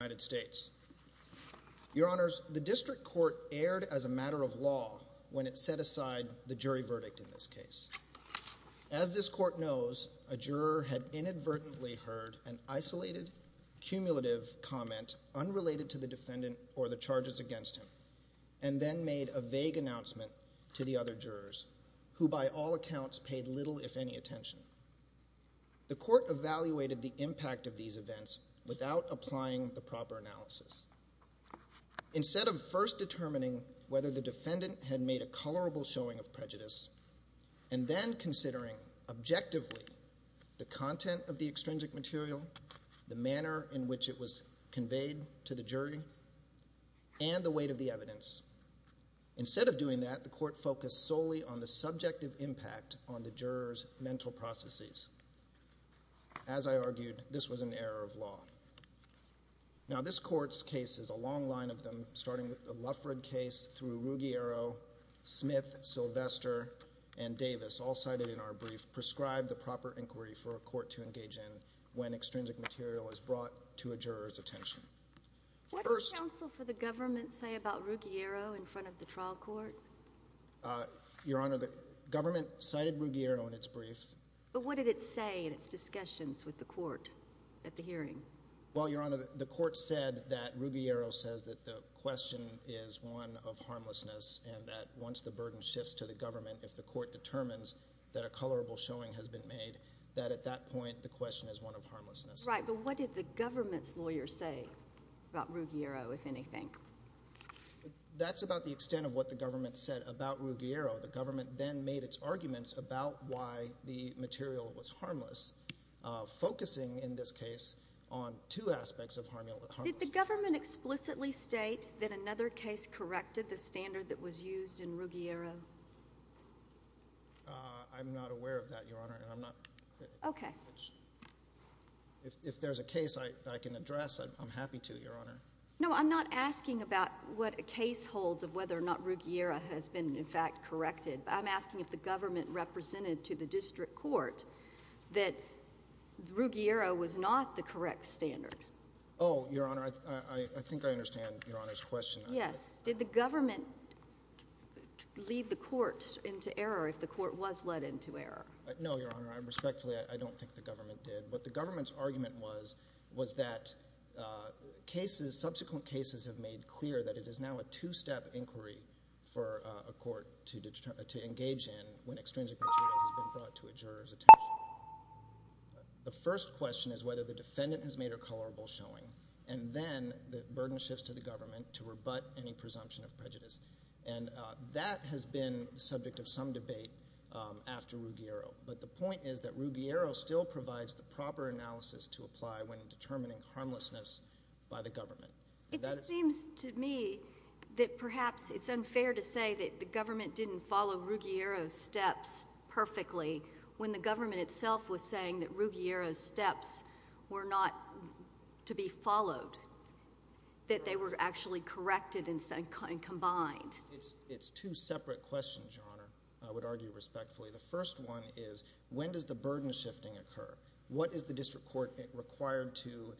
United States. Your Honors, the District Court erred as a matter of law when it set aside the jury verdict in this case. As this Court knows, a juror had inadvertently heard an isolated, cumulative comment unrelated to the defendant or the charges against him, and then made a vague announcement to the other jurors, who by all accounts paid little if any attention. The Court evaluated the impact of these events without applying the proper analysis. Instead of first determining whether the defendant had made a colorable showing of prejudice, and then considering objectively the content of the extrinsic material, the manner in which it was conveyed to the jury, and the weight of the evidence, instead of doing that, the Court focused solely on the subjective impact on the jurors' mental processes. As I argued, this was an error of law. Now, this Court's case is a long line of them, starting with the Lufford case, through Ruggiero, Smith, Sylvester, and Davis, all cited in our brief, prescribed the proper inquiry for a court to engage in when extrinsic material is brought to a juror's attention. What did counsel for the government say about the court? Your Honor, the government cited Ruggiero in its brief. But what did it say in its discussions with the court at the hearing? Well, Your Honor, the court said that Ruggiero says that the question is one of harmlessness, and that once the burden shifts to the government, if the court determines that a colorable showing has been made, that at that point the question is one of harmlessness. Right, but what did the government's lawyer say about Ruggiero, if anything? That's about the extent of what the government said about Ruggiero. The government then made its arguments about why the material was harmless, focusing in this case on two aspects of harmlessness. Did the government explicitly state that another case corrected the standard that was used in Ruggiero? I'm not aware of that, Your Honor. Okay. If there's a I'm not asking about what a case holds of whether or not Ruggiero has been, in fact, corrected. I'm asking if the government represented to the district court that Ruggiero was not the correct standard. Oh, Your Honor, I think I understand Your Honor's question. Yes. Did the government lead the court into error, if the court was led into error? No, Your Honor. Respectfully, I don't think the government did. What the government's argument was, was that cases, subsequent cases have made clear that it is now a two-step inquiry for a court to engage in when extrinsic material has been brought to a juror's attention. The first question is whether the defendant has made a colorable showing, and then the burden shifts to the government to rebut any presumption of prejudice. And that has been the subject of some debate after Ruggiero, but the point is that Ruggiero still provides the proper analysis to apply when determining harmlessness by the government. It seems to me that perhaps it's unfair to say that the government didn't follow Ruggiero's steps perfectly when the government itself was saying that Ruggiero's steps were not to be followed, that they were actually corrected and combined. It's two separate questions, Your Honor, I would argue respectfully. The first one is when does the burden shifting occur? What is the district court required to,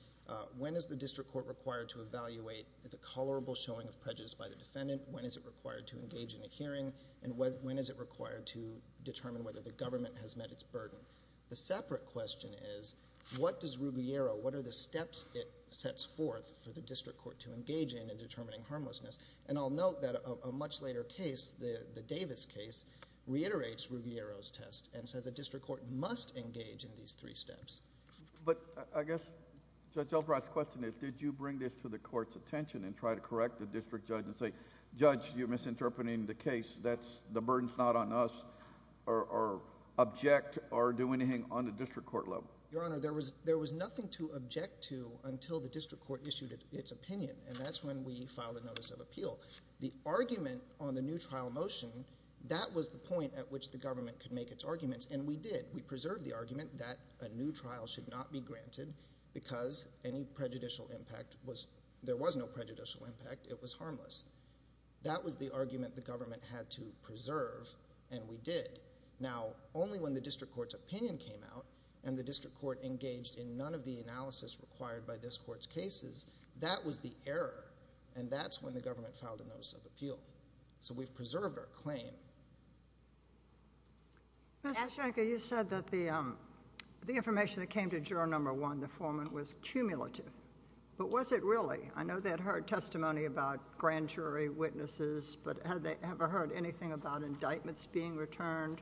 when is the district court required to evaluate the colorable showing of prejudice by the defendant? When is it required to engage in a hearing? And when is it required to determine whether the government has met its burden? The separate question is what does Ruggiero, what are the steps it sets forth for the district court to engage in in determining harmlessness? And I'll note that a much later case, the Davis case, reiterates Ruggiero's test and says a district court must engage in these three steps. But I guess Judge Albright's question is did you bring this to the court's attention and try to correct the district judge and say, Judge, you're misinterpreting the case, that's, the burden's not on us, or object, or do anything on the district court level? Your Honor, there was there was nothing to object to until the district court issued its opinion, and that's when we filed a notice of appeal. The argument on the new trial motion, that was the argument, we preserved the argument that a new trial should not be granted because any prejudicial impact was, there was no prejudicial impact, it was harmless. That was the argument the government had to preserve, and we did. Now, only when the district court's opinion came out and the district court engaged in none of the analysis required by this court's cases, that was the error. And that's when the government filed a notice of appeal. So we've preserved our claim. Mr. Schenker, you said that the information that came to Juror Number One, the foreman, was cumulative. But was it really? I know they had heard testimony about grand jury witnesses, but have they ever heard anything about indictments being returned,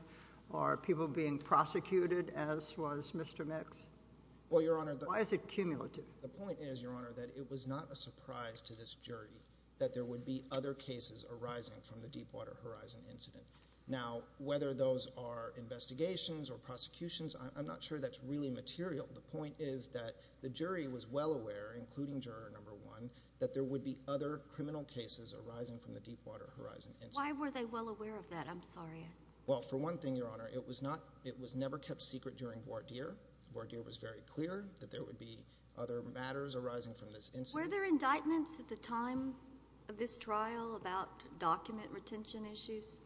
or people being prosecuted, as was Mr. Mix? Well, Your Honor... Why is it cumulative? The point is, Your Honor, that it was not a surprise to this jury that there would be other cases arising from the Deepwater Horizon incident. Now, whether those are investigations or prosecutions, I'm not sure that's really material. The point is that the jury was well aware, including Juror Number One, that there would be other criminal cases arising from the Deepwater Horizon incident. Why were they well aware of that? I'm sorry. Well, for one thing, Your Honor, it was not... it was never kept secret during voir dire. Voir dire was very clear that there would be other matters arising from this incident. Were there indictments at the time of this trial about document retention issues?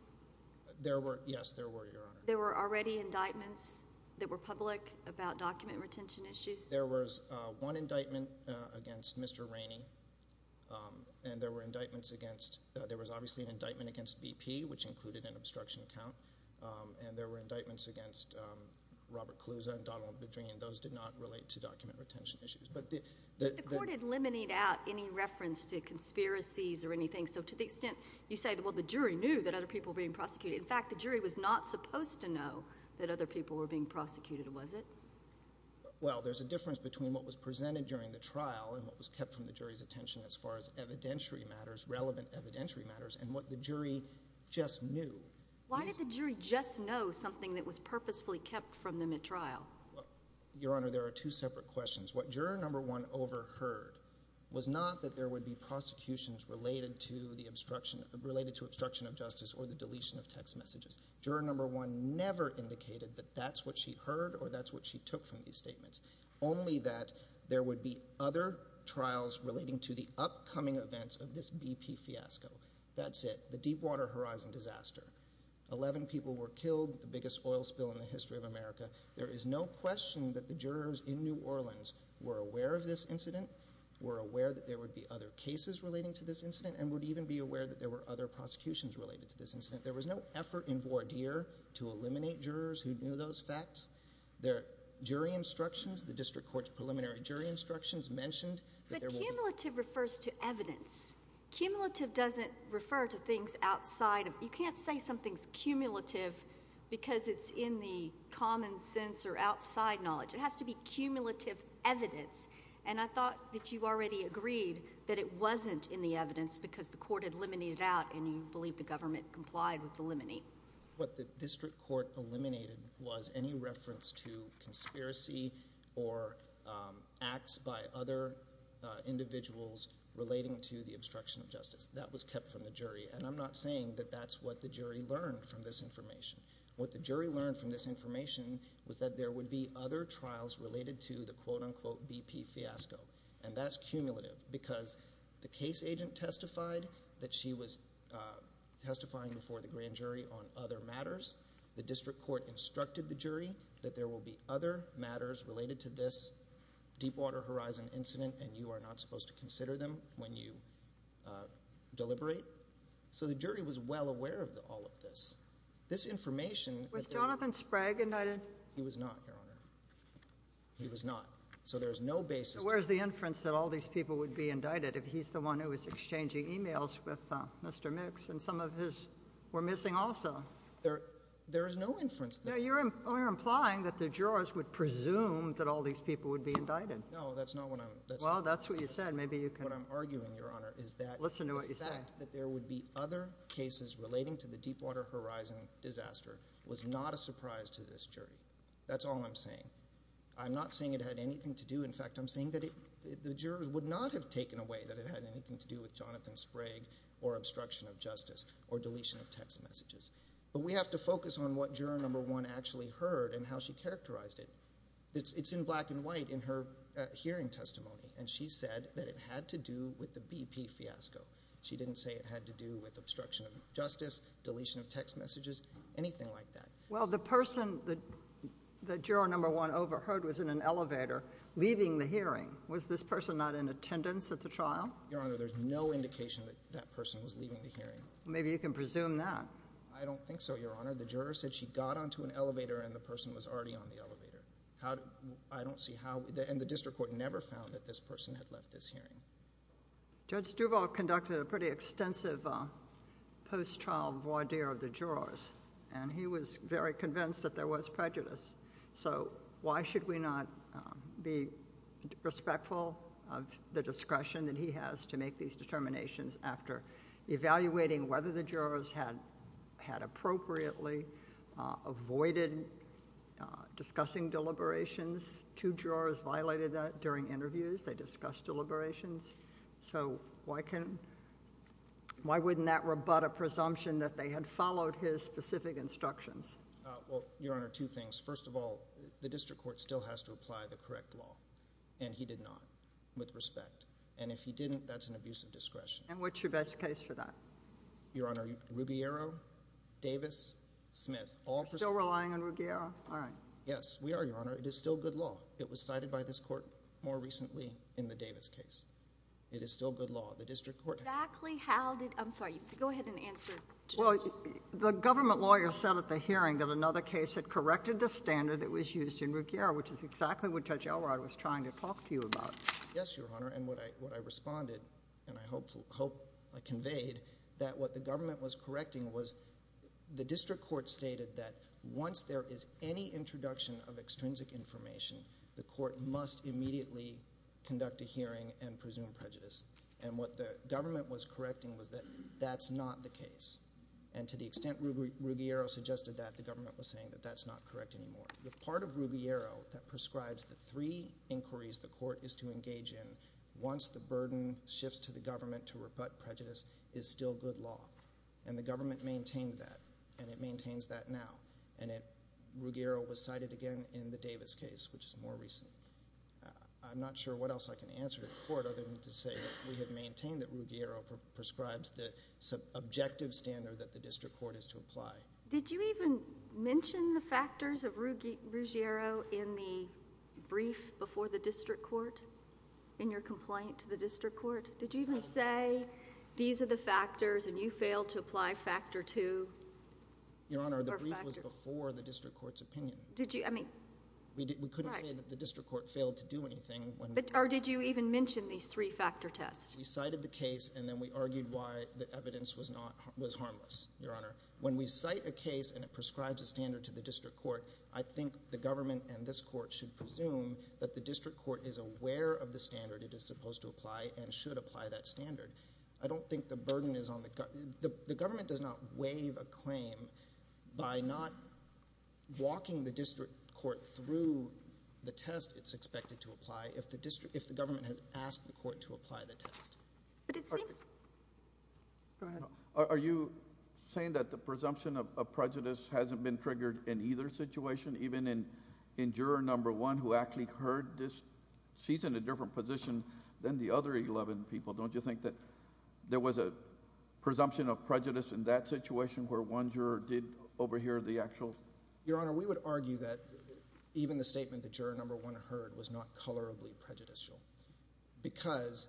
There were... yes, there were, Your Honor. There were already indictments that were public about document retention issues? There was one indictment against Mr. Rainey, and there were indictments against... there was obviously an indictment against BP, which included an obstruction count, and there were indictments against Robert Caluza and Donald Bedrine. Those did not relate to document retention issues. But the... The court had eliminated out any that other people were being prosecuted. In fact, the jury was not supposed to know that other people were being prosecuted, was it? Well, there's a difference between what was presented during the trial and what was kept from the jury's attention as far as evidentiary matters, relevant evidentiary matters, and what the jury just knew. Why did the jury just know something that was purposefully kept from them at trial? Your Honor, there are two separate questions. What Juror Number One overheard was not that there would be prosecutions related to obstruction of justice or the deletion of text messages. Juror Number One never indicated that that's what she heard or that's what she took from these statements, only that there would be other trials relating to the upcoming events of this BP fiasco. That's it, the Deepwater Horizon disaster. Eleven people were killed, the biggest oil spill in the history of America. There is no question that the jurors in New Orleans were aware of this incident, were aware that there would be other cases relating to this incident, and would even be aware that there were other prosecutions related to this incident. There was no effort in voir dire to eliminate jurors who knew those facts. Their jury instructions, the district court's preliminary jury instructions mentioned that there will be— But cumulative refers to evidence. Cumulative doesn't refer to things outside of—you can't say something's cumulative because it's in the common sense or outside knowledge. It has to be cumulative evidence, and I thought that you already agreed that it wasn't in the evidence because the court had eliminated out, and you believe the government complied with eliminate. What the district court eliminated was any reference to conspiracy or acts by other individuals relating to the obstruction of justice. That was kept from the jury, and I'm not saying that that's what the jury learned from this information. What the jury learned from this information was that there would be other trials related to the quote-unquote BP fiasco, and that's what this agent testified, that she was testifying before the grand jury on other matters. The district court instructed the jury that there will be other matters related to this Deepwater Horizon incident, and you are not supposed to consider them when you deliberate. So the jury was well aware of all of this. This information— Was Jonathan Sprague indicted? He was not, Your Honor. He was not, so there's no basis— So where's the inference that all these people would be indicted if he's the one who was exchanging emails with Mr. Mix, and some of his were missing also? There is no inference— No, you're implying that the jurors would presume that all these people would be indicted. No, that's not what I'm— Well, that's what you said. Maybe you can— What I'm arguing, Your Honor, is that— Listen to what you're saying. The fact that there would be other cases relating to the Deepwater Horizon disaster was not a surprise to this jury. That's all I'm saying. I'm not saying it had anything to do— in fact, I'm saying that the jurors would not have taken away that it had anything to do with Jonathan Sprague or obstruction of justice or deletion of text messages, but we have to focus on what juror number one actually heard and how she characterized it. It's in black and white in her hearing testimony, and she said that it had to do with the BP fiasco. She didn't say it had to do with obstruction of justice, deletion of text messages, anything like that. Well, the person that juror number one overheard was in an elevator leaving the hearing. Was this person not in attendance at the trial? Your Honor, there's no indication that that person was leaving the hearing. Maybe you can presume that. I don't think so, Your Honor. The juror said she got onto an elevator and the person was already on the elevator. How— I don't see how— and the district court never found that this person had left this hearing. Judge Duvall conducted a pretty extensive post-trial voir dire of the jurors, and he was very convinced that there was prejudice. So why should we not be respectful of the discretion that he has to make these determinations after evaluating whether the jurors had appropriately avoided discussing deliberations? Two jurors violated that during interviews. They discussed deliberations. So why can't— why wouldn't that rebut a presumption that they had followed his specific instructions? Well, Your Honor, two things. First of all, the district court still has to apply the correct law, and he did not, with respect. And if he didn't, that's an abuse of discretion. And what's your best case for that? Your Honor, Rubiero, Davis, Smith. You're still relying on Rubiero? All right. Yes, we are, Your Honor. It is still good law. It was cited by this court more recently in the Davis case. It is still good law. The district court— Exactly how did— I'm sorry. Go ahead and answer. Well, the government lawyer said at the hearing that another case had corrected the standard that was used in Rubiero, which is exactly what Judge Elrod was trying to talk to you about. Yes, Your Honor, and what I responded, and I hope— hope I conveyed that what the government was correcting was the district court stated that once there is any introduction of extrinsic information, the court must immediately conduct a hearing and presume prejudice. And what the government was correcting was that that's not the case. And to the extent Rubiero suggested that, the government was saying that that's not correct anymore. The part of Rubiero that prescribes the three inquiries the court is to engage in once the burden shifts to the government to rebut prejudice is still good law. And the government maintained that, and it maintains that now. And Rubiero was cited again in the Davis case, which is more recent. I'm not sure what else I can answer to the court other than to say that we have maintained that Rubiero prescribes the objective standard that the district court is to apply. Did you even mention the factors of Rubiero in the brief before the district court, in your complaint to the district court? Did you even say, these are the factors and you failed to apply factor two? Your Honor, the brief was before the district court's opinion. Did you, I mean. We couldn't say that the district court failed to do anything when. Or did you even mention these three factor tests? We cited the case and then we argued why the evidence was not, was harmless, Your Honor. When we cite a case and it prescribes a standard to the district court, I think the government and this court should presume that the district court is aware of the standard it is supposed to apply and should apply that standard. I don't think the burden is on the, the government does not waive a claim by not walking the district court through the test it's expected to apply if the district, if the government has asked the court to apply the test. But it seems. Go ahead. Are you saying that the presumption of prejudice hasn't been triggered in either situation, even in juror number one who actually heard this? She's in a different position than the other 11 people. Don't you think that there was a presumption of prejudice in that situation where one juror did overhear the actual? Your Honor, we would argue that even the statement the juror number one heard was not colorably prejudicial. Because,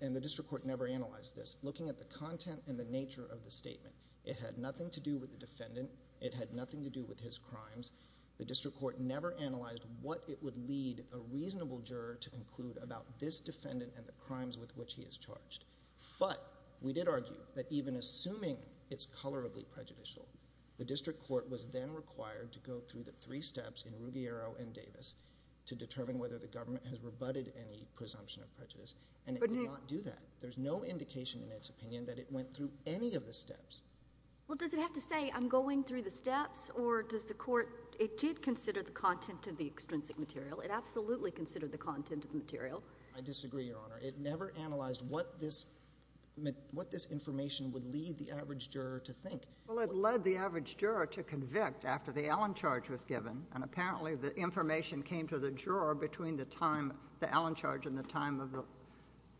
and the district court never analyzed this, looking at the content and the nature of the statement. It had nothing to do with the defendant. It had nothing to do with his crimes. The district court never analyzed what it would lead a reasonable juror to conclude about this defendant and the crimes with which he is charged. But, we did argue that even assuming it's colorably prejudicial, the district court was then required to go through the three steps in Ruggiero and Davis to determine whether the government has rebutted any presumption of prejudice, and it did not do that. There's no indication in its opinion that it went through any of the steps. Well, does it have to say, I'm going through the steps, or does the court, it did consider the content of the extrinsic material. It absolutely considered the content of the material. I disagree, Your Honor. It never analyzed what this, what this information would lead the average juror to think. Well, it led the average juror to convict after the Allen charge was given, and apparently the information came to the juror between the time, the Allen charge and the time of the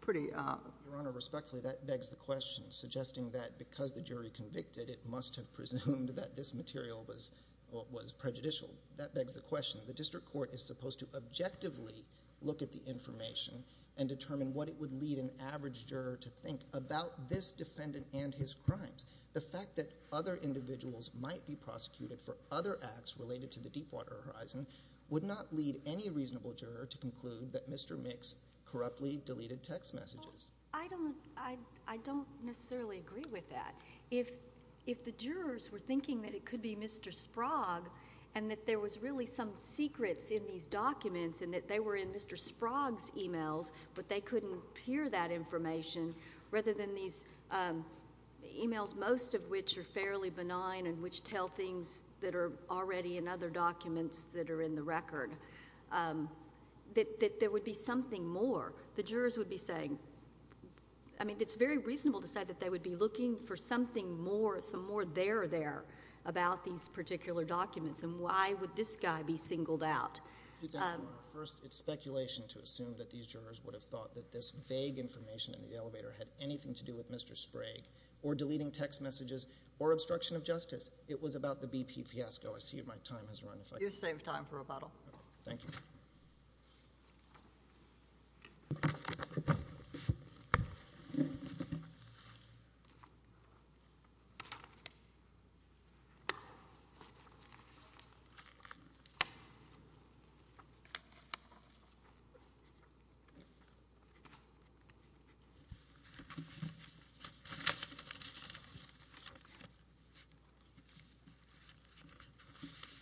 pretty, uh. Your Honor, respectfully, that begs the question, suggesting that because the jury convicted, it must have presumed that this material was, well, was prejudicial. That begs the question. The district court is supposed to objectively look at the information and determine what it would lead an average juror to think about this defendant and his crimes. The fact that other individuals might be prosecuted for other acts related to the Deepwater Horizon would not lead any reasonable juror to conclude that Mr. Mix corruptly deleted text messages. I don't, I, I don't necessarily agree with that. If, if the jurors were thinking that it could be Mr. Sprague and that there was really some secrets in these documents and that they were in Mr. Sprague's emails, but they couldn't peer that information, rather than these emails, most of which are fairly benign and which tell things that are already in other documents that are in the record, um, that, that there would be something more. The jurors would be saying, I mean, it's very reasonable to say that they would be looking for something more, some more there, there about these particular documents. And why would this guy be singled out? Um. First, it's speculation to assume that these jurors would have thought that this vague information in the elevator had anything to do with Mr. Sprague or deleting text messages or obstruction of justice. It was about the BP fiasco. I see my time has run. You saved time for rebuttal. Thank you. Governor is perhaps most regret Governor15 years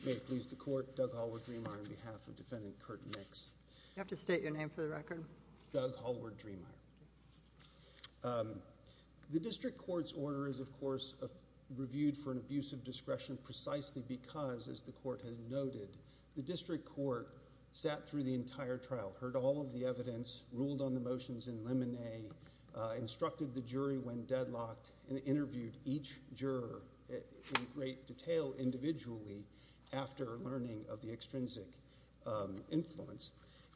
May it please the court. Doug Holder, Greenbaugh on behalf of Defendant Kurt Netflix. You have to state your name for the record. Doug Hallward, Dreamire. The district court's order is, of course, reviewed for an abuse of discretion precisely because, as the court has noted, the district court sat through the entire trial, heard all of the evidence, ruled on the motions in limine, instructed the jury when deadlocked, and interviewed each juror in great detail individually after learning of the extrinsic influence.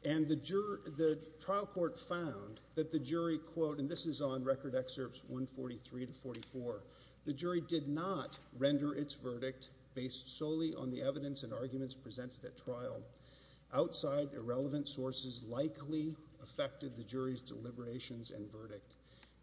And the trial court found that the jury, quote, and this is on record excerpts 143 to 44, the jury did not render its verdict based solely on the evidence and arguments presented at trial outside irrelevant sources likely affected the jury's deliberations and verdict.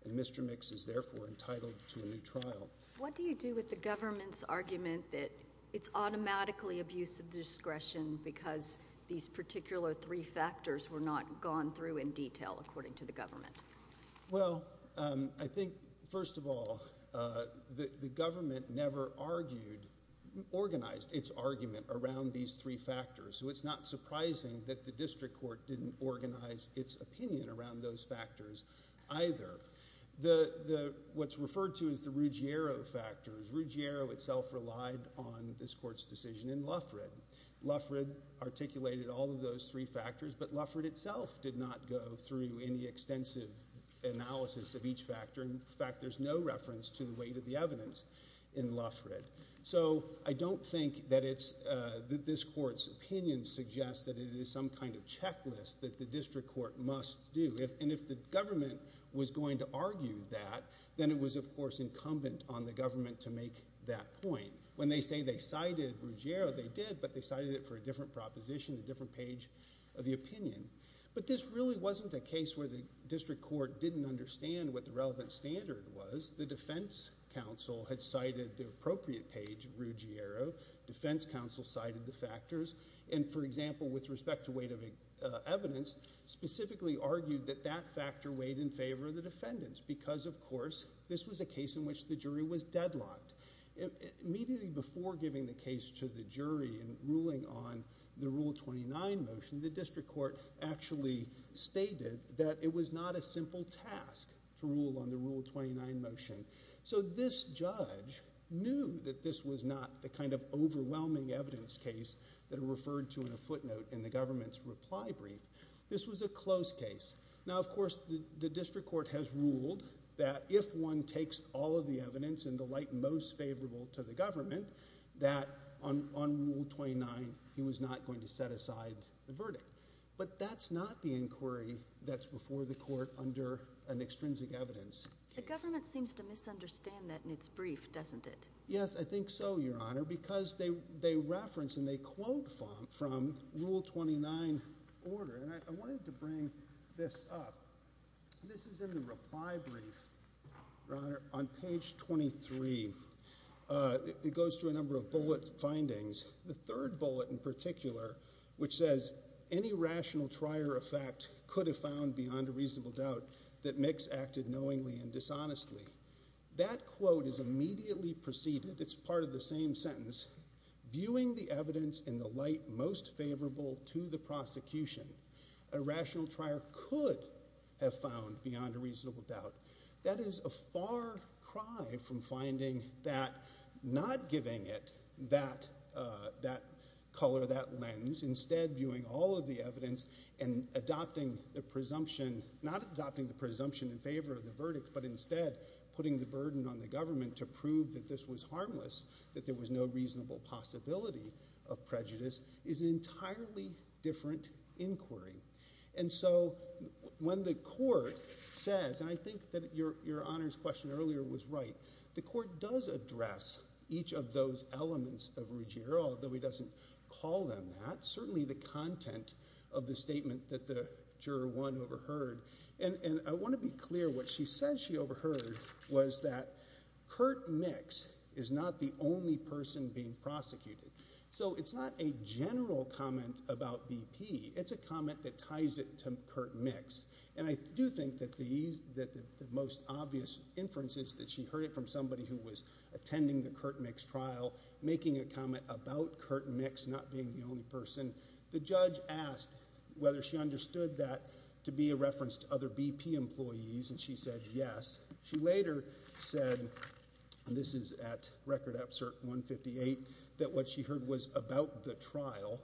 And Mr. Mix is therefore entitled to a new trial. What do you do with the government's argument that it's automatically abuse of discretion because these particular three factors were not gone through in detail according to the government? Well, um, I think first of all, uh, the government never argued, organized its argument around these three factors. So it's not surprising that the district court didn't organize its opinion around those factors either. The, the, what's referred to as the Ruggiero factors, Ruggiero itself relied on this court's decision in Luffred. Luffred articulated all of those three factors, but Luffred itself did not go through any extensive analysis of each factor. In fact, there's no reference to the weight of the evidence in Luffred. So I don't think that it's, uh, that this court's opinion suggests that it is some kind of checklist that the district court must do. And if the government was going to argue that, then it was of course incumbent on the government to make that point. When they say they cited Ruggiero, they did, but they cited it for a different proposition, a different page of the opinion. But this really wasn't a case where the district court didn't understand what the relevant standard was. The defense counsel had cited the appropriate page Ruggiero, defense counsel cited the factors. And for example, with respect to weight of evidence, specifically argued that that factor weighed in favor of the defendants. Because of course, this was a case in which the jury was deadlocked. Immediately before giving the case to the jury and ruling on the rule 29 motion, the district court actually stated that it was not a simple task to rule on the rule 29 motion. So this judge knew that this was not the kind of overwhelming evidence case that are referred to in a footnote in the government's reply brief. This was a close case. Now, of course, the district court has ruled that if one takes all of the evidence and the most favorable to the government that on, on rule 29, he was not going to set aside the verdict, but that's not the inquiry that's before the court under an extrinsic evidence. The government seems to misunderstand that in its brief, doesn't it? Yes, I think so. Your honor, because they, they reference and they quote from rule 29 order. And I wanted to bring this up. This is in the reply brief on page 23. Uh, it goes through a number of bullets findings. The third bullet in particular, which says any rational trier effect could have found beyond a reasonable doubt that mix acted knowingly and dishonestly. That quote is immediately preceded. It's part of the same sentence, viewing the evidence in the light, most favorable to the prosecution, a rational trier could have found beyond a reasonable doubt. That is a far cry from finding that not giving it that, uh, that color, that lens instead viewing all of the evidence and adopting the presumption, not adopting the presumption in favor of the verdict, but instead putting the burden on the government to prove that this was harmless, that there was no reasonable possibility of prejudice is an entirely different inquiry. And so when the court says, and I think that your, your honor's question earlier was right. The court does address each of those elements of Ruggiero that we doesn't call them that certainly the content of the statement that the juror one overheard. And I want to be clear. What she said she overheard was that Kurt mix is not the only person being it's a comment that ties it to Curt mix. And I do think that the ease that the most obvious inferences that she heard it from somebody who was attending the Curt mix trial, making a comment about Curt mix, not being the only person. The judge asked whether she understood that to be a reference to other BP employees. And she said, yes. She later said, and this is at record absurd one 58 that what she heard was about the trial.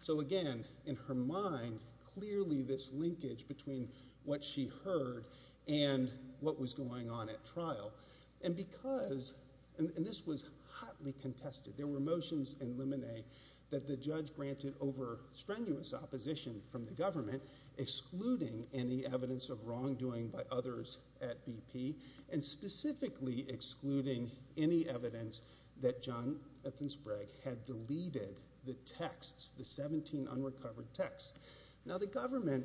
So again, in her mind, clearly this linkage between what she heard and what was going on at trial. And because, and this was hotly contested, there were motions and limine that the judge granted over strenuous opposition from the government, excluding any evidence of wrongdoing by others at BP and specifically excluding any evidence that John Ethan Sprague had deleted the texts, the 17 unrecovered texts. Now the government,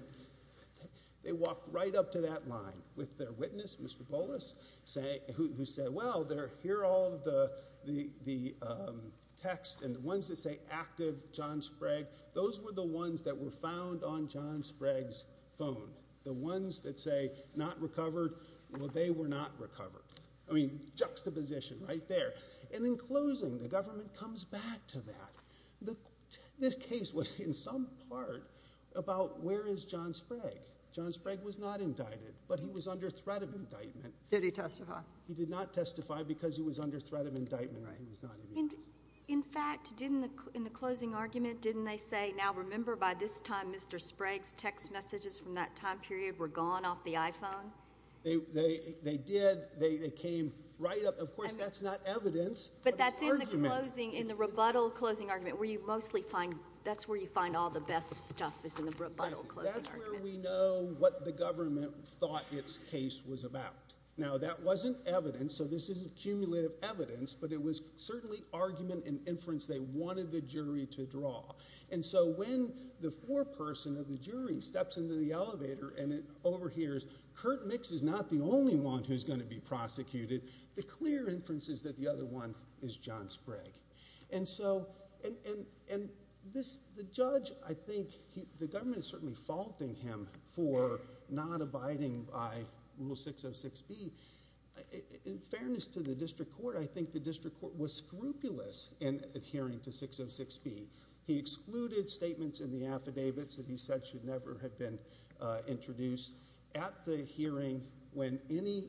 they walked right up to that line with their witness. Mr. Polis say who said, well, they're here. All of the, the, the texts and the ones that say active John Sprague, those were the ones that were found on John Sprague's phone. The ones that say not recovered. Well, they were not recovered. I mean, juxtaposition right there. And in closing, the government comes back to that. The, this case was in some part about where is John Sprague. John Sprague was not indicted, but he was under threat of indictment. Did he testify? He did not testify because he was under threat of indictment. Right. In fact, didn't the, in the closing argument, didn't they say, now remember by this time, Mr. Sprague's text messages from that time period, were gone off the iPhone. They, they, they did. They came right up. Of course, that's not evidence, but that's in the closing, in the rebuttal closing argument where you mostly find, that's where you find all the best stuff is in the rebuttal. That's where we know what the government thought its case was about. Now that wasn't evidence. So this is a cumulative evidence, but it was certainly argument and inference. They wanted the jury to draw. And so when the foreperson of the jury steps into the elevator and it overhears, Kurt Mix is not the only one who's going to be prosecuted. The clear inference is that the other one is John Sprague. And so, and, and, and this, the judge, I think he, the government is certainly faulting him for not abiding by rule 606B. In fairness to the district court, I think the district court was scrupulous in adhering to 606B. He excluded statements in the affidavits that he said should never have been introduced at the hearing. When any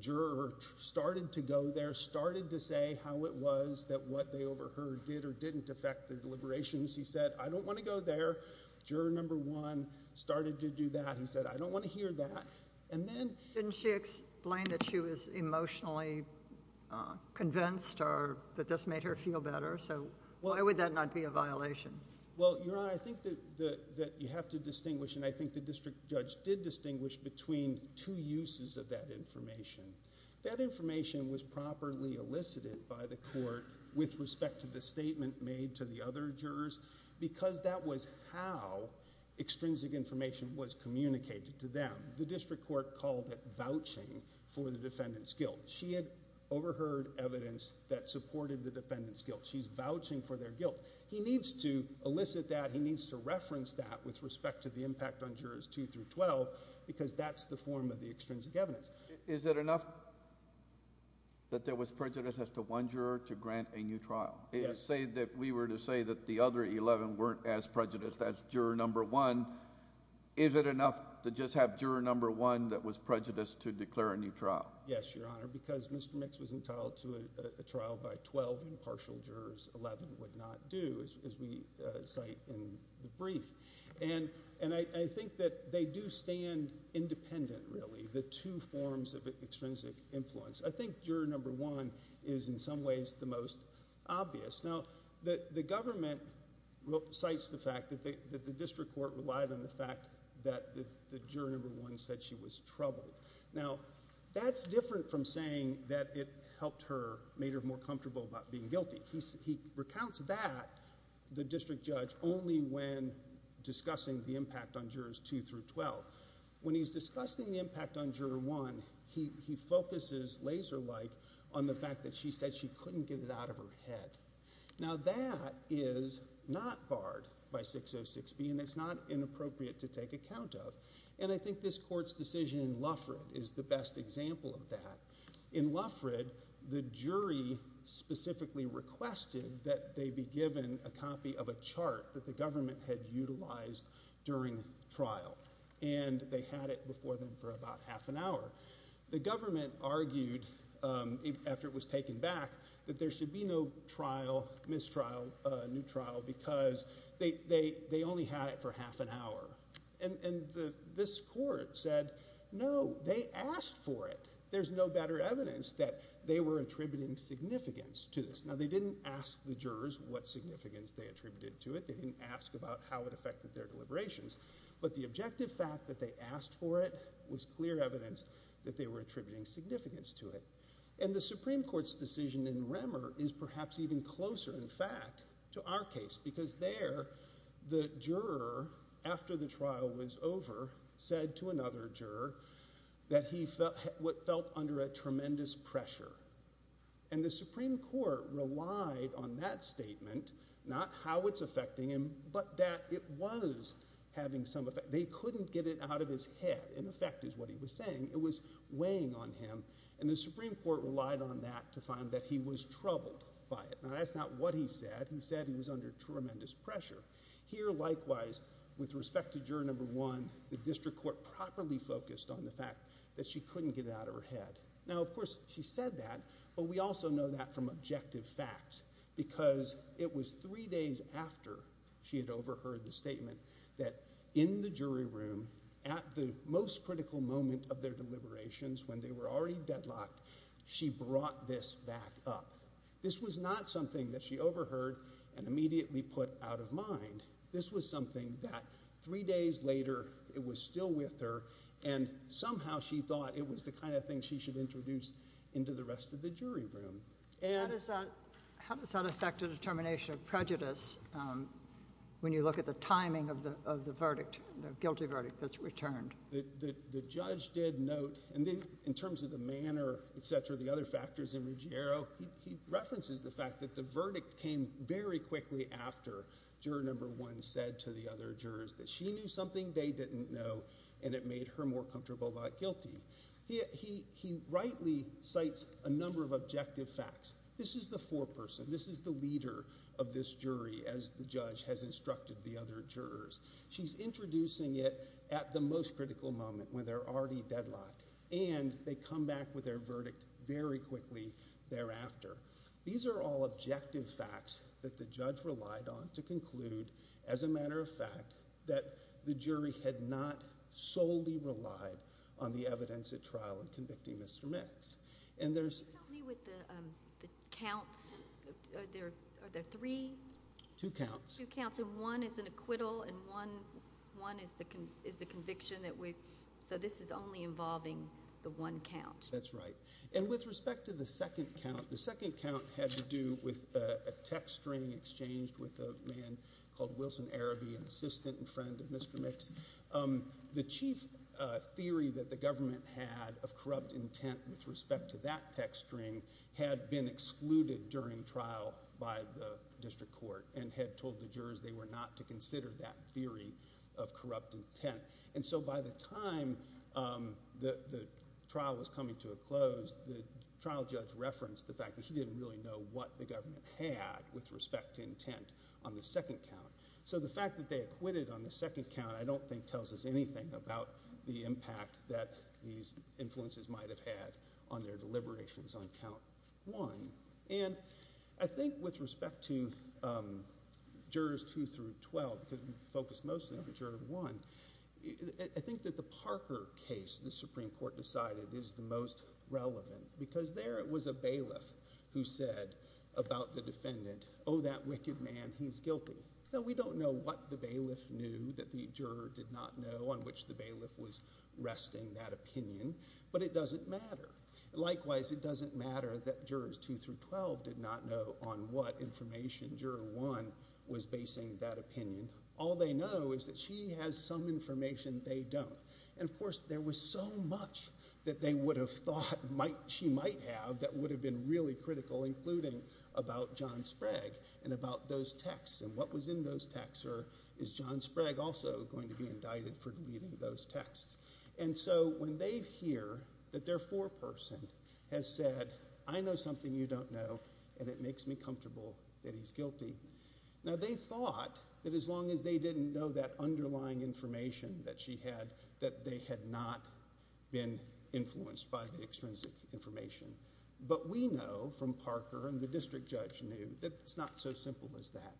juror started to go there, started to say how it was that what they overheard did or didn't affect their deliberations. He said, I don't want to go there. Juror number one started to do that. He said, I don't want to hear that. And then didn't she explain that she was emotionally convinced or that this made her feel better? So why would that not be a violation? Well, Your Honor, I think that the, that you have to distinguish and I think the district judge did distinguish between two uses of that information. That information was properly elicited by the court with respect to the statement made to the other jurors, because that was how extrinsic information was communicated to them. The district court called it vouching for the defendant's guilt. She had overheard evidence that supported the defendant's guilt. She's vouching for their guilt. He needs to elicit that. He needs to reference that with respect to the impact on jurors two through 12, because that's the form of the extrinsic evidence. Is it enough that there was prejudice as to one juror to grant a new trial? It is said that we were to say that the other 11 weren't as prejudiced as juror number one. Is it enough to just have juror number one that was prejudiced to declare a new trial because Mr. Mitz was entitled to a trial by 12 impartial jurors, 11 would not do as we cite in the brief. And I think that they do stand independent, really, the two forms of extrinsic influence. I think juror number one is in some ways the most obvious. Now the government cites the fact that the district court relied on the fact that the juror number one said she was troubled. Now that's different from saying that it helped her, made her more comfortable about being guilty. He recounts that the district judge, only when discussing the impact on jurors two through 12. When he's discussing the impact on juror one, he focuses laser light on the fact that she said she couldn't get it out of her head. Now that is not barred by 606B and it's not inappropriate to take account of. And I think this court's decision in Lufford is the best example of that. In Lufford, the jury specifically requested that they be given a copy of a chart that the government had utilized during trial and they had it before them for about half an hour. The government argued, um, after it was taken back that there should be no trial, mistrial, uh, neutral because they, they, they only had it for half an hour. And, and the, this court said, no, they asked for it. There's no better evidence that they were attributing significance to this. Now they didn't ask the jurors what significance they attributed to it. They didn't ask about how it affected their deliberations, but the objective fact that they asked for it was clear evidence that they were attributing significance to it. And the Supreme Court's decision in Remmer is perhaps even closer in fact to our case because there the juror after the trial was over said to another juror that he felt what felt under a tremendous pressure and the Supreme Court relied on that statement, not how it's affecting him, but that it was having some effect. They couldn't get it out of his head. In effect is what he was saying. It was weighing on him and the Supreme Court relied on that to find that he was troubled by it. Now that's not what he said. He said he was under tremendous pressure here. Likewise, with respect to juror number one, the district court properly focused on the fact that she couldn't get it out of her head. Now, of course she said that, but we also know that from objective facts because it was three days after she had overheard the statement that in the jury room at the most critical moment of their deliberations when they were already deadlocked, she brought this back up. This was not something that she overheard and immediately put out of mind. This was something that three days later it was still with her and somehow she thought it was the kind of thing she should introduce into the rest of the jury room. How does that affect a determination of prejudice? Um, when you look at the timing of the, of the verdict, the guilty verdict, that's returned, the judge did note, and then in terms of the manner, et cetera, the other factors in Ruggiero, he references the fact that the verdict came very quickly after juror number one said to the other jurors that she knew something they didn't know and it made her more comfortable about guilty. He, he, he rightly cites a number of objective facts. This is the foreperson, this is the leader of this jury as the judge has instructed the other jurors. She's introducing it at the most critical moment when they're already deadlocked and they come back with their verdict very quickly thereafter. These are all objective facts that the judge relied on to conclude as a matter of fact, that the jury had not solely relied on the evidence at trial and convicting Mr. Mitz. And there's... Help me with the, um, the counts. Are there, are there three? Two counts. Two counts. And one is an acquittal and one, one is the con, is the conviction that we, so this is only involving the one count. That's right. And with respect to the second count, the second count had to do with a text stringing exchanged with a man called Wilson Araby, an assistant and friend of Mr. Mitz. Um, the chief theory that the government had of corrupt intent with respect to that text string had been excluded during trial by the district court and had told the jurors they were not to consider that theory of corrupt intent. And so by the time, um, the, the trial was coming to a close, the trial judge referenced the fact that he didn't really know what the government had with respect to intent on the second count. So the fact that they acquitted on the second count, I don't think tells us anything about the impact that these influences might have had on their deliberations on count one. And I think with respect to, um, jurors two through 12 could focus mostly for juror one. I think that the Parker case, the Supreme Court decided is the most relevant because there it was a bailiff who said about the defendant, Oh, that wicked man, he's guilty. Now we don't know what the bailiff knew that the juror did not know on which the matter. Likewise, it doesn't matter that jurors two through 12 did not know on what information juror one was basing that opinion. All they know is that she has some information they don't. And of course, there was so much that they would have thought she might have, that would have been really critical, including about John Sprague and about those texts and what was in those texts or is John Sprague also going to be indicted for deleting those texts. And so when they hear that their foreperson has said, I know something you don't know, and it makes me comfortable that he's guilty. Now they thought that as long as they didn't know that underlying information that she had, that they had not been influenced by the extrinsic information. But we know from Parker and the district judge knew that it's not so simple as that,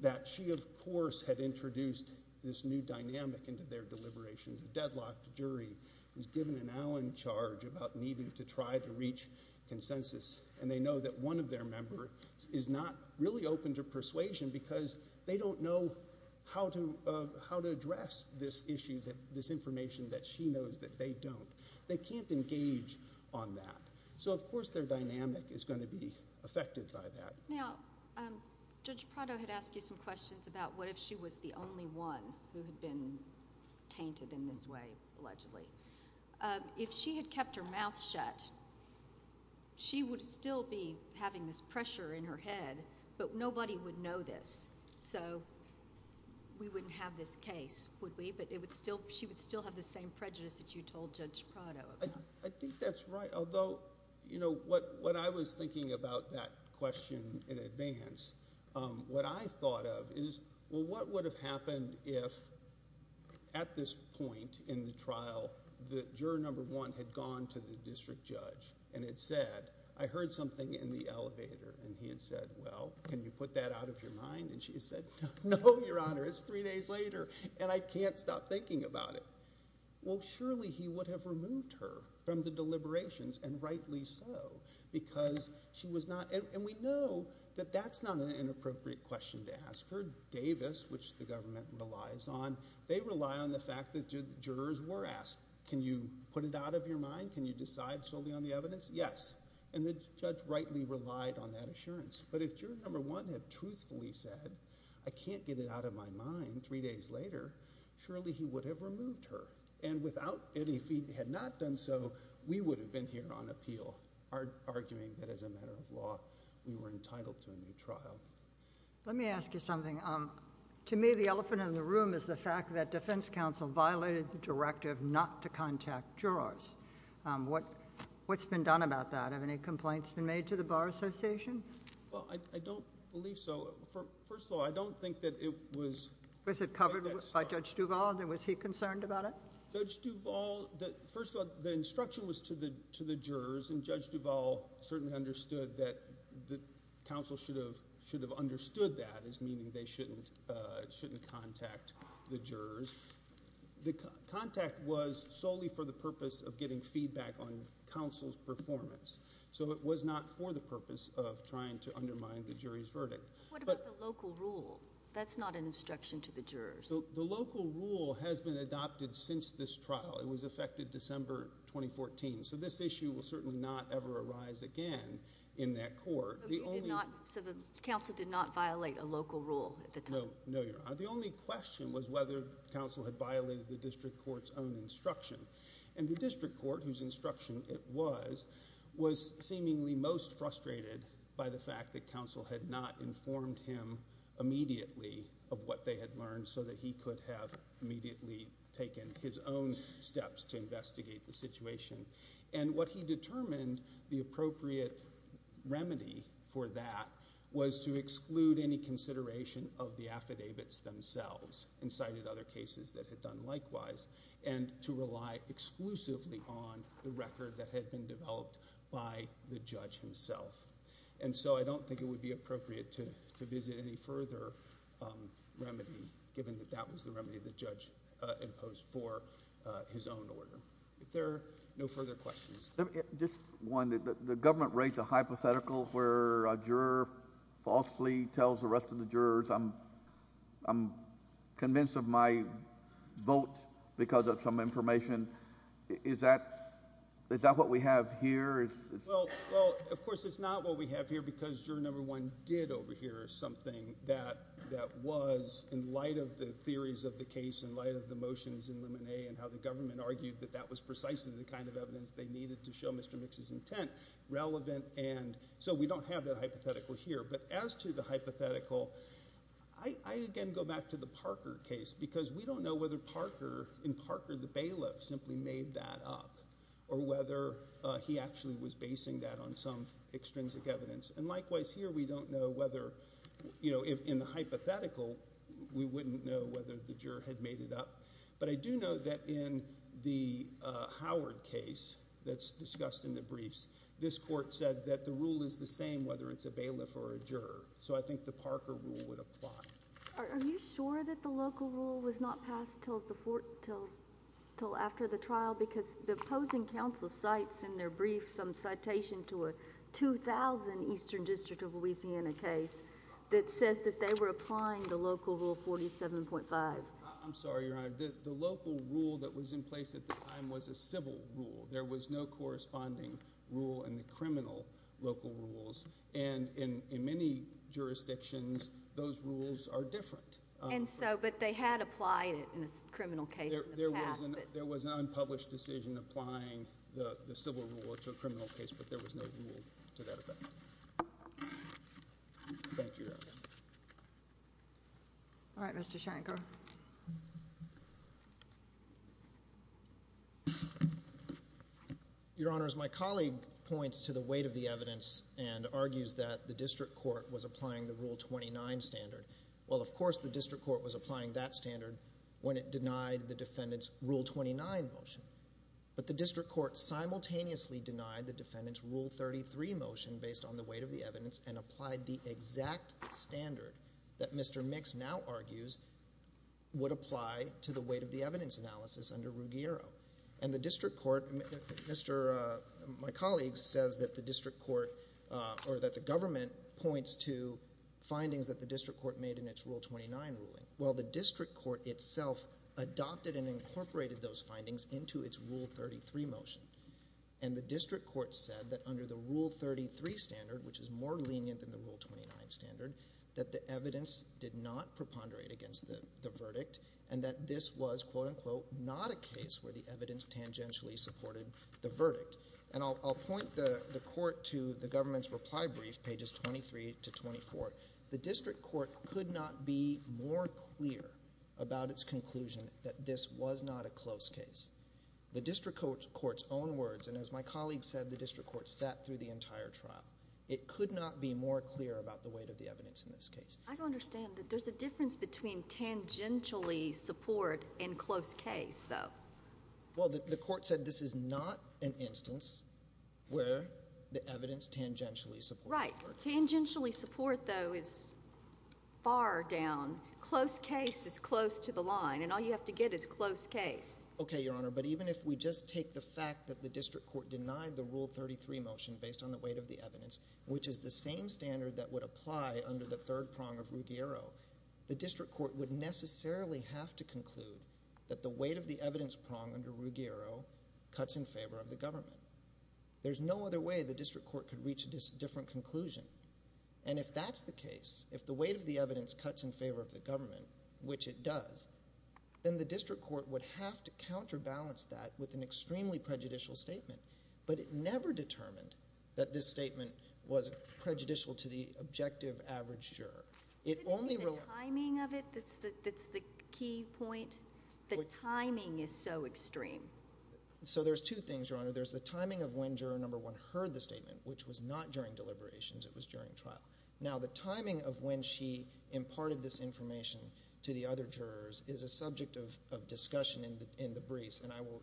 that she of course had introduced this new dynamic into their deliberations. The deadlocked jury was given an Allen charge about needing to try to reach consensus. And they know that one of their member is not really open to persuasion because they don't know how to, uh, how to address this issue, that this information that she knows that they don't, they can't engage on that. So of course their dynamic is going to be affected by that. Now, um, judge Prado had asked you some questions about what if she was the only one who painted in this way, allegedly, uh, if she had kept her mouth shut, she would still be having this pressure in her head, but nobody would know this. So we wouldn't have this case, would we? But it would still, she would still have the same prejudice that you told judge Prado. I think that's right. Although, you know, what, what I was thinking about that question in advance, um, what I thought of is, well, what would have happened if at this point in the trial, the juror number one had gone to the district judge and had said, I heard something in the elevator and he had said, well, can you put that out of your mind? And she said, no, Your Honor, it's three days later and I can't stop thinking about it. Well, surely he would have removed her from the deliberations and rightly so because she was not. And we know that that's not an inappropriate question to ask her. Davis, which the government relies on, they rely on the fact that jurors were asked, can you put it out of your mind? Can you decide solely on the evidence? Yes. And the judge rightly relied on that assurance. But if you're number one had truthfully said, I can't get it out of my mind. Three days later, surely he would have removed her. And without any feet, they had not done. So we would have been here on appeal, arguing that as a matter of law, we were entitled to a new trial. Let me ask you something. Um, to me, the elephant in the room is the fact that defense counsel violated the directive not to contact jurors. Um, what, what's been done about that? Have any complaints been made to the bar association? Well, I don't believe so. First of all, I don't think that it was, was it covered by judge Duvall? And then was he concerned about it? Judge Duvall that first of all, the instruction was to the, to the jurors. And judge Duvall certainly understood that the council should have, should have understood that as meaning they shouldn't, uh, shouldn't contact the jurors. The contact was solely for the purpose of getting feedback on counsel's performance. So it was not for the purpose of trying to undermine the jury's verdict. What about the local rule? That's not an instruction to the jurors. The local rule has been adopted since this trial. It was affected December, 2014. So this issue will certainly not ever arise again in that court. So the council did not violate a local rule at the time. No, Your Honor. The only question was whether counsel had violated the district court's own instruction and the district court whose instruction it was, was seemingly most frustrated by the fact that counsel had not informed him immediately of what they had learned so that he could have immediately taken his own steps to investigate the situation. And what he determined the appropriate remedy for that was to exclude any consideration of the affidavits themselves and cited other cases that had done likewise and to rely exclusively on the record that had been developed by the judge himself. And so I don't think it would be appropriate to visit any further remedy given that that was the remedy the judge imposed for his own order. If there are no further questions. Just one, the government raised a hypothetical where a juror falsely tells the rest of the jurors, I'm, I'm convinced of my vote because of some information. Is that, is that what we have here? Well, well, of course it's not what we have here because juror number one did overhear something that that was in light of the theories of the case in light of the motions in lemonade and how the government argued that that was precisely the kind of evidence they needed to show Mr. Mix's intent relevant. And so we don't have that hypothetical here. But as to the hypothetical, I, I again go back to the Parker case because we don't know whether Parker in Parker, the bailiff simply made that up or whether he actually was basing that on some extrinsic evidence. And likewise here we don't know whether you know, if in the hypothetical we wouldn't know whether the juror had made it up. But I do know that in the Howard case that's discussed in the briefs, this court said that the rule is the same, whether it's a bailiff or a juror. So I think the Parker rule would apply. Are you sure that the local rule was not passed till the fourth till till after the trial? Because the opposing council cites in their brief, some citation to a 2000 Eastern district of Louisiana case that says that they were applying the local rule 47.5. I'm sorry, your honor, the local rule that was in place at the time was a civil rule. There was no corresponding rule in the criminal local rules. And in, in many jurisdictions those rules are different. And so, but they had applied it in a criminal case. There was an unpublished decision applying the civil rule to a criminal case, but there was no rule to that effect. Thank you. All right, Mr Shanker. Your honors, my colleague points to the weight of the evidence and argues that the district court was applying the rule 29 standard. Well of course the district court was applying that standard when it denied the defendant's rule 29 motion, but the district court simultaneously denied the defendant's rule 33 motion based on the weight of the evidence and applied the exact standard that Mr. Mix now argues would apply to the weight of the evidence analysis under Ruggiero and the district court. Mr my colleague says that the district court or that the government points to findings that the district court made in its rule 29 ruling while the district court itself adopted and incorporated those findings into its rule 33 motion. And the district court said that under the rule 33 standard, which is more lenient than the rule 29 standard, that the evidence did not preponderate against the verdict and that this was quote unquote not a case where the evidence tangentially supported the verdict. And I'll, I'll point the court to the government's reply brief pages 23 to 24. The district court could not be more clear about its conclusion that this was not a close case. The district court court's own words. And as my colleague said, the district court sat through the entire trial. It could not be more clear about the weight of the evidence in this case. I don't understand that there's a difference between tangentially support and close case though. Well the court said this is not an instance where the evidence tangentially support. Tangentially support though is far down. Close case is close to the line and all you have to get is close case. Okay, your honor. But even if we just take the fact that the district court denied the rule 33 motion based on the weight of the evidence, which is the same standard that would apply under the third prong of Ruggiero, the district court would necessarily have to conclude that the weight of the evidence prong under Ruggiero cuts in favor of the government. There's no other way the district court could reach a different conclusion. And if that's the case, if the weight of the evidence cuts in favor of the government, which it does, then the district court would have to counterbalance that with an extremely prejudicial statement. But it never determined that this statement was prejudicial to the objective average juror. It only relies on timing of it. That's the, The timing is so extreme. So there's two things, your honor. There's the timing of when juror number one heard the statement, which was not during deliberations. It was during trial. Now the timing of when she imparted this information to the other jurors is a subject of discussion in the, in the briefs. And I will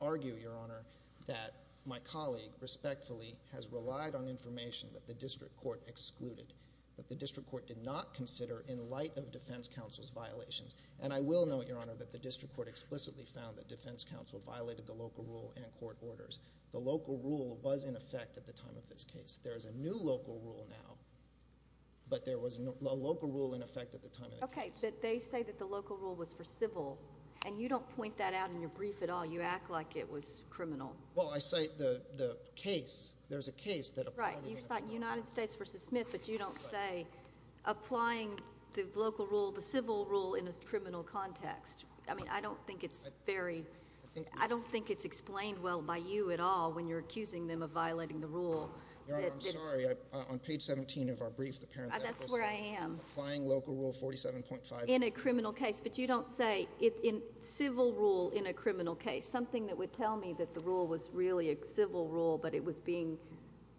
argue your honor that my colleague respectfully has relied on information that the district court excluded, that the district court did not consider in light of defense counsel's violations. And I will note your honor that the district court explicitly found that defense counsel violated the local rule and court orders. The local rule was in effect at the time of this case. There is a new local rule now, but there was no local rule in effect at the time. Okay. That they say that the local rule was for civil and you don't point that out in your brief at all. You act like it was criminal. Well, I say the, the case, there's a case that applied in the United States versus Smith, but you don't say applying the local rule, the civil rule in a criminal context. I mean, I don't think it's very, I don't think it's explained well by you at all when you're accusing them of violating the rule. I'm sorry. On page 17 of our brief, the parent, that's where I am applying local rule 47.5 in a criminal case. But you don't say it in civil rule in a criminal case, something that would tell me that the rule was really a civil rule, but it was being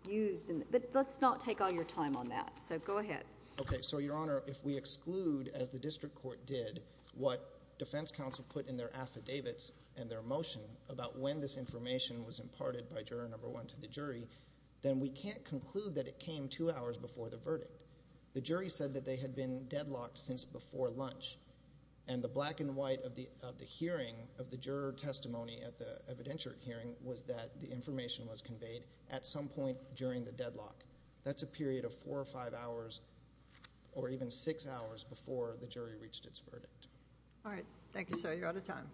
used in, but let's not take all your time on that. So go ahead. Okay. So your honor, if we exclude as the district court did what defense counsel put in their affidavits and their motion about when this information was imparted by juror number one to the jury, then we can't conclude that it came two hours before the verdict. The jury said that they had been deadlocked since before lunch and the black and white of the, of the hearing of the juror testimony at the evidentiary hearing was that the information was conveyed at some point during the deadlock. That's a period of four or five hours or even six hours before the jury reached its verdict. All right. Thank you, sir. You're out of time. Thank you.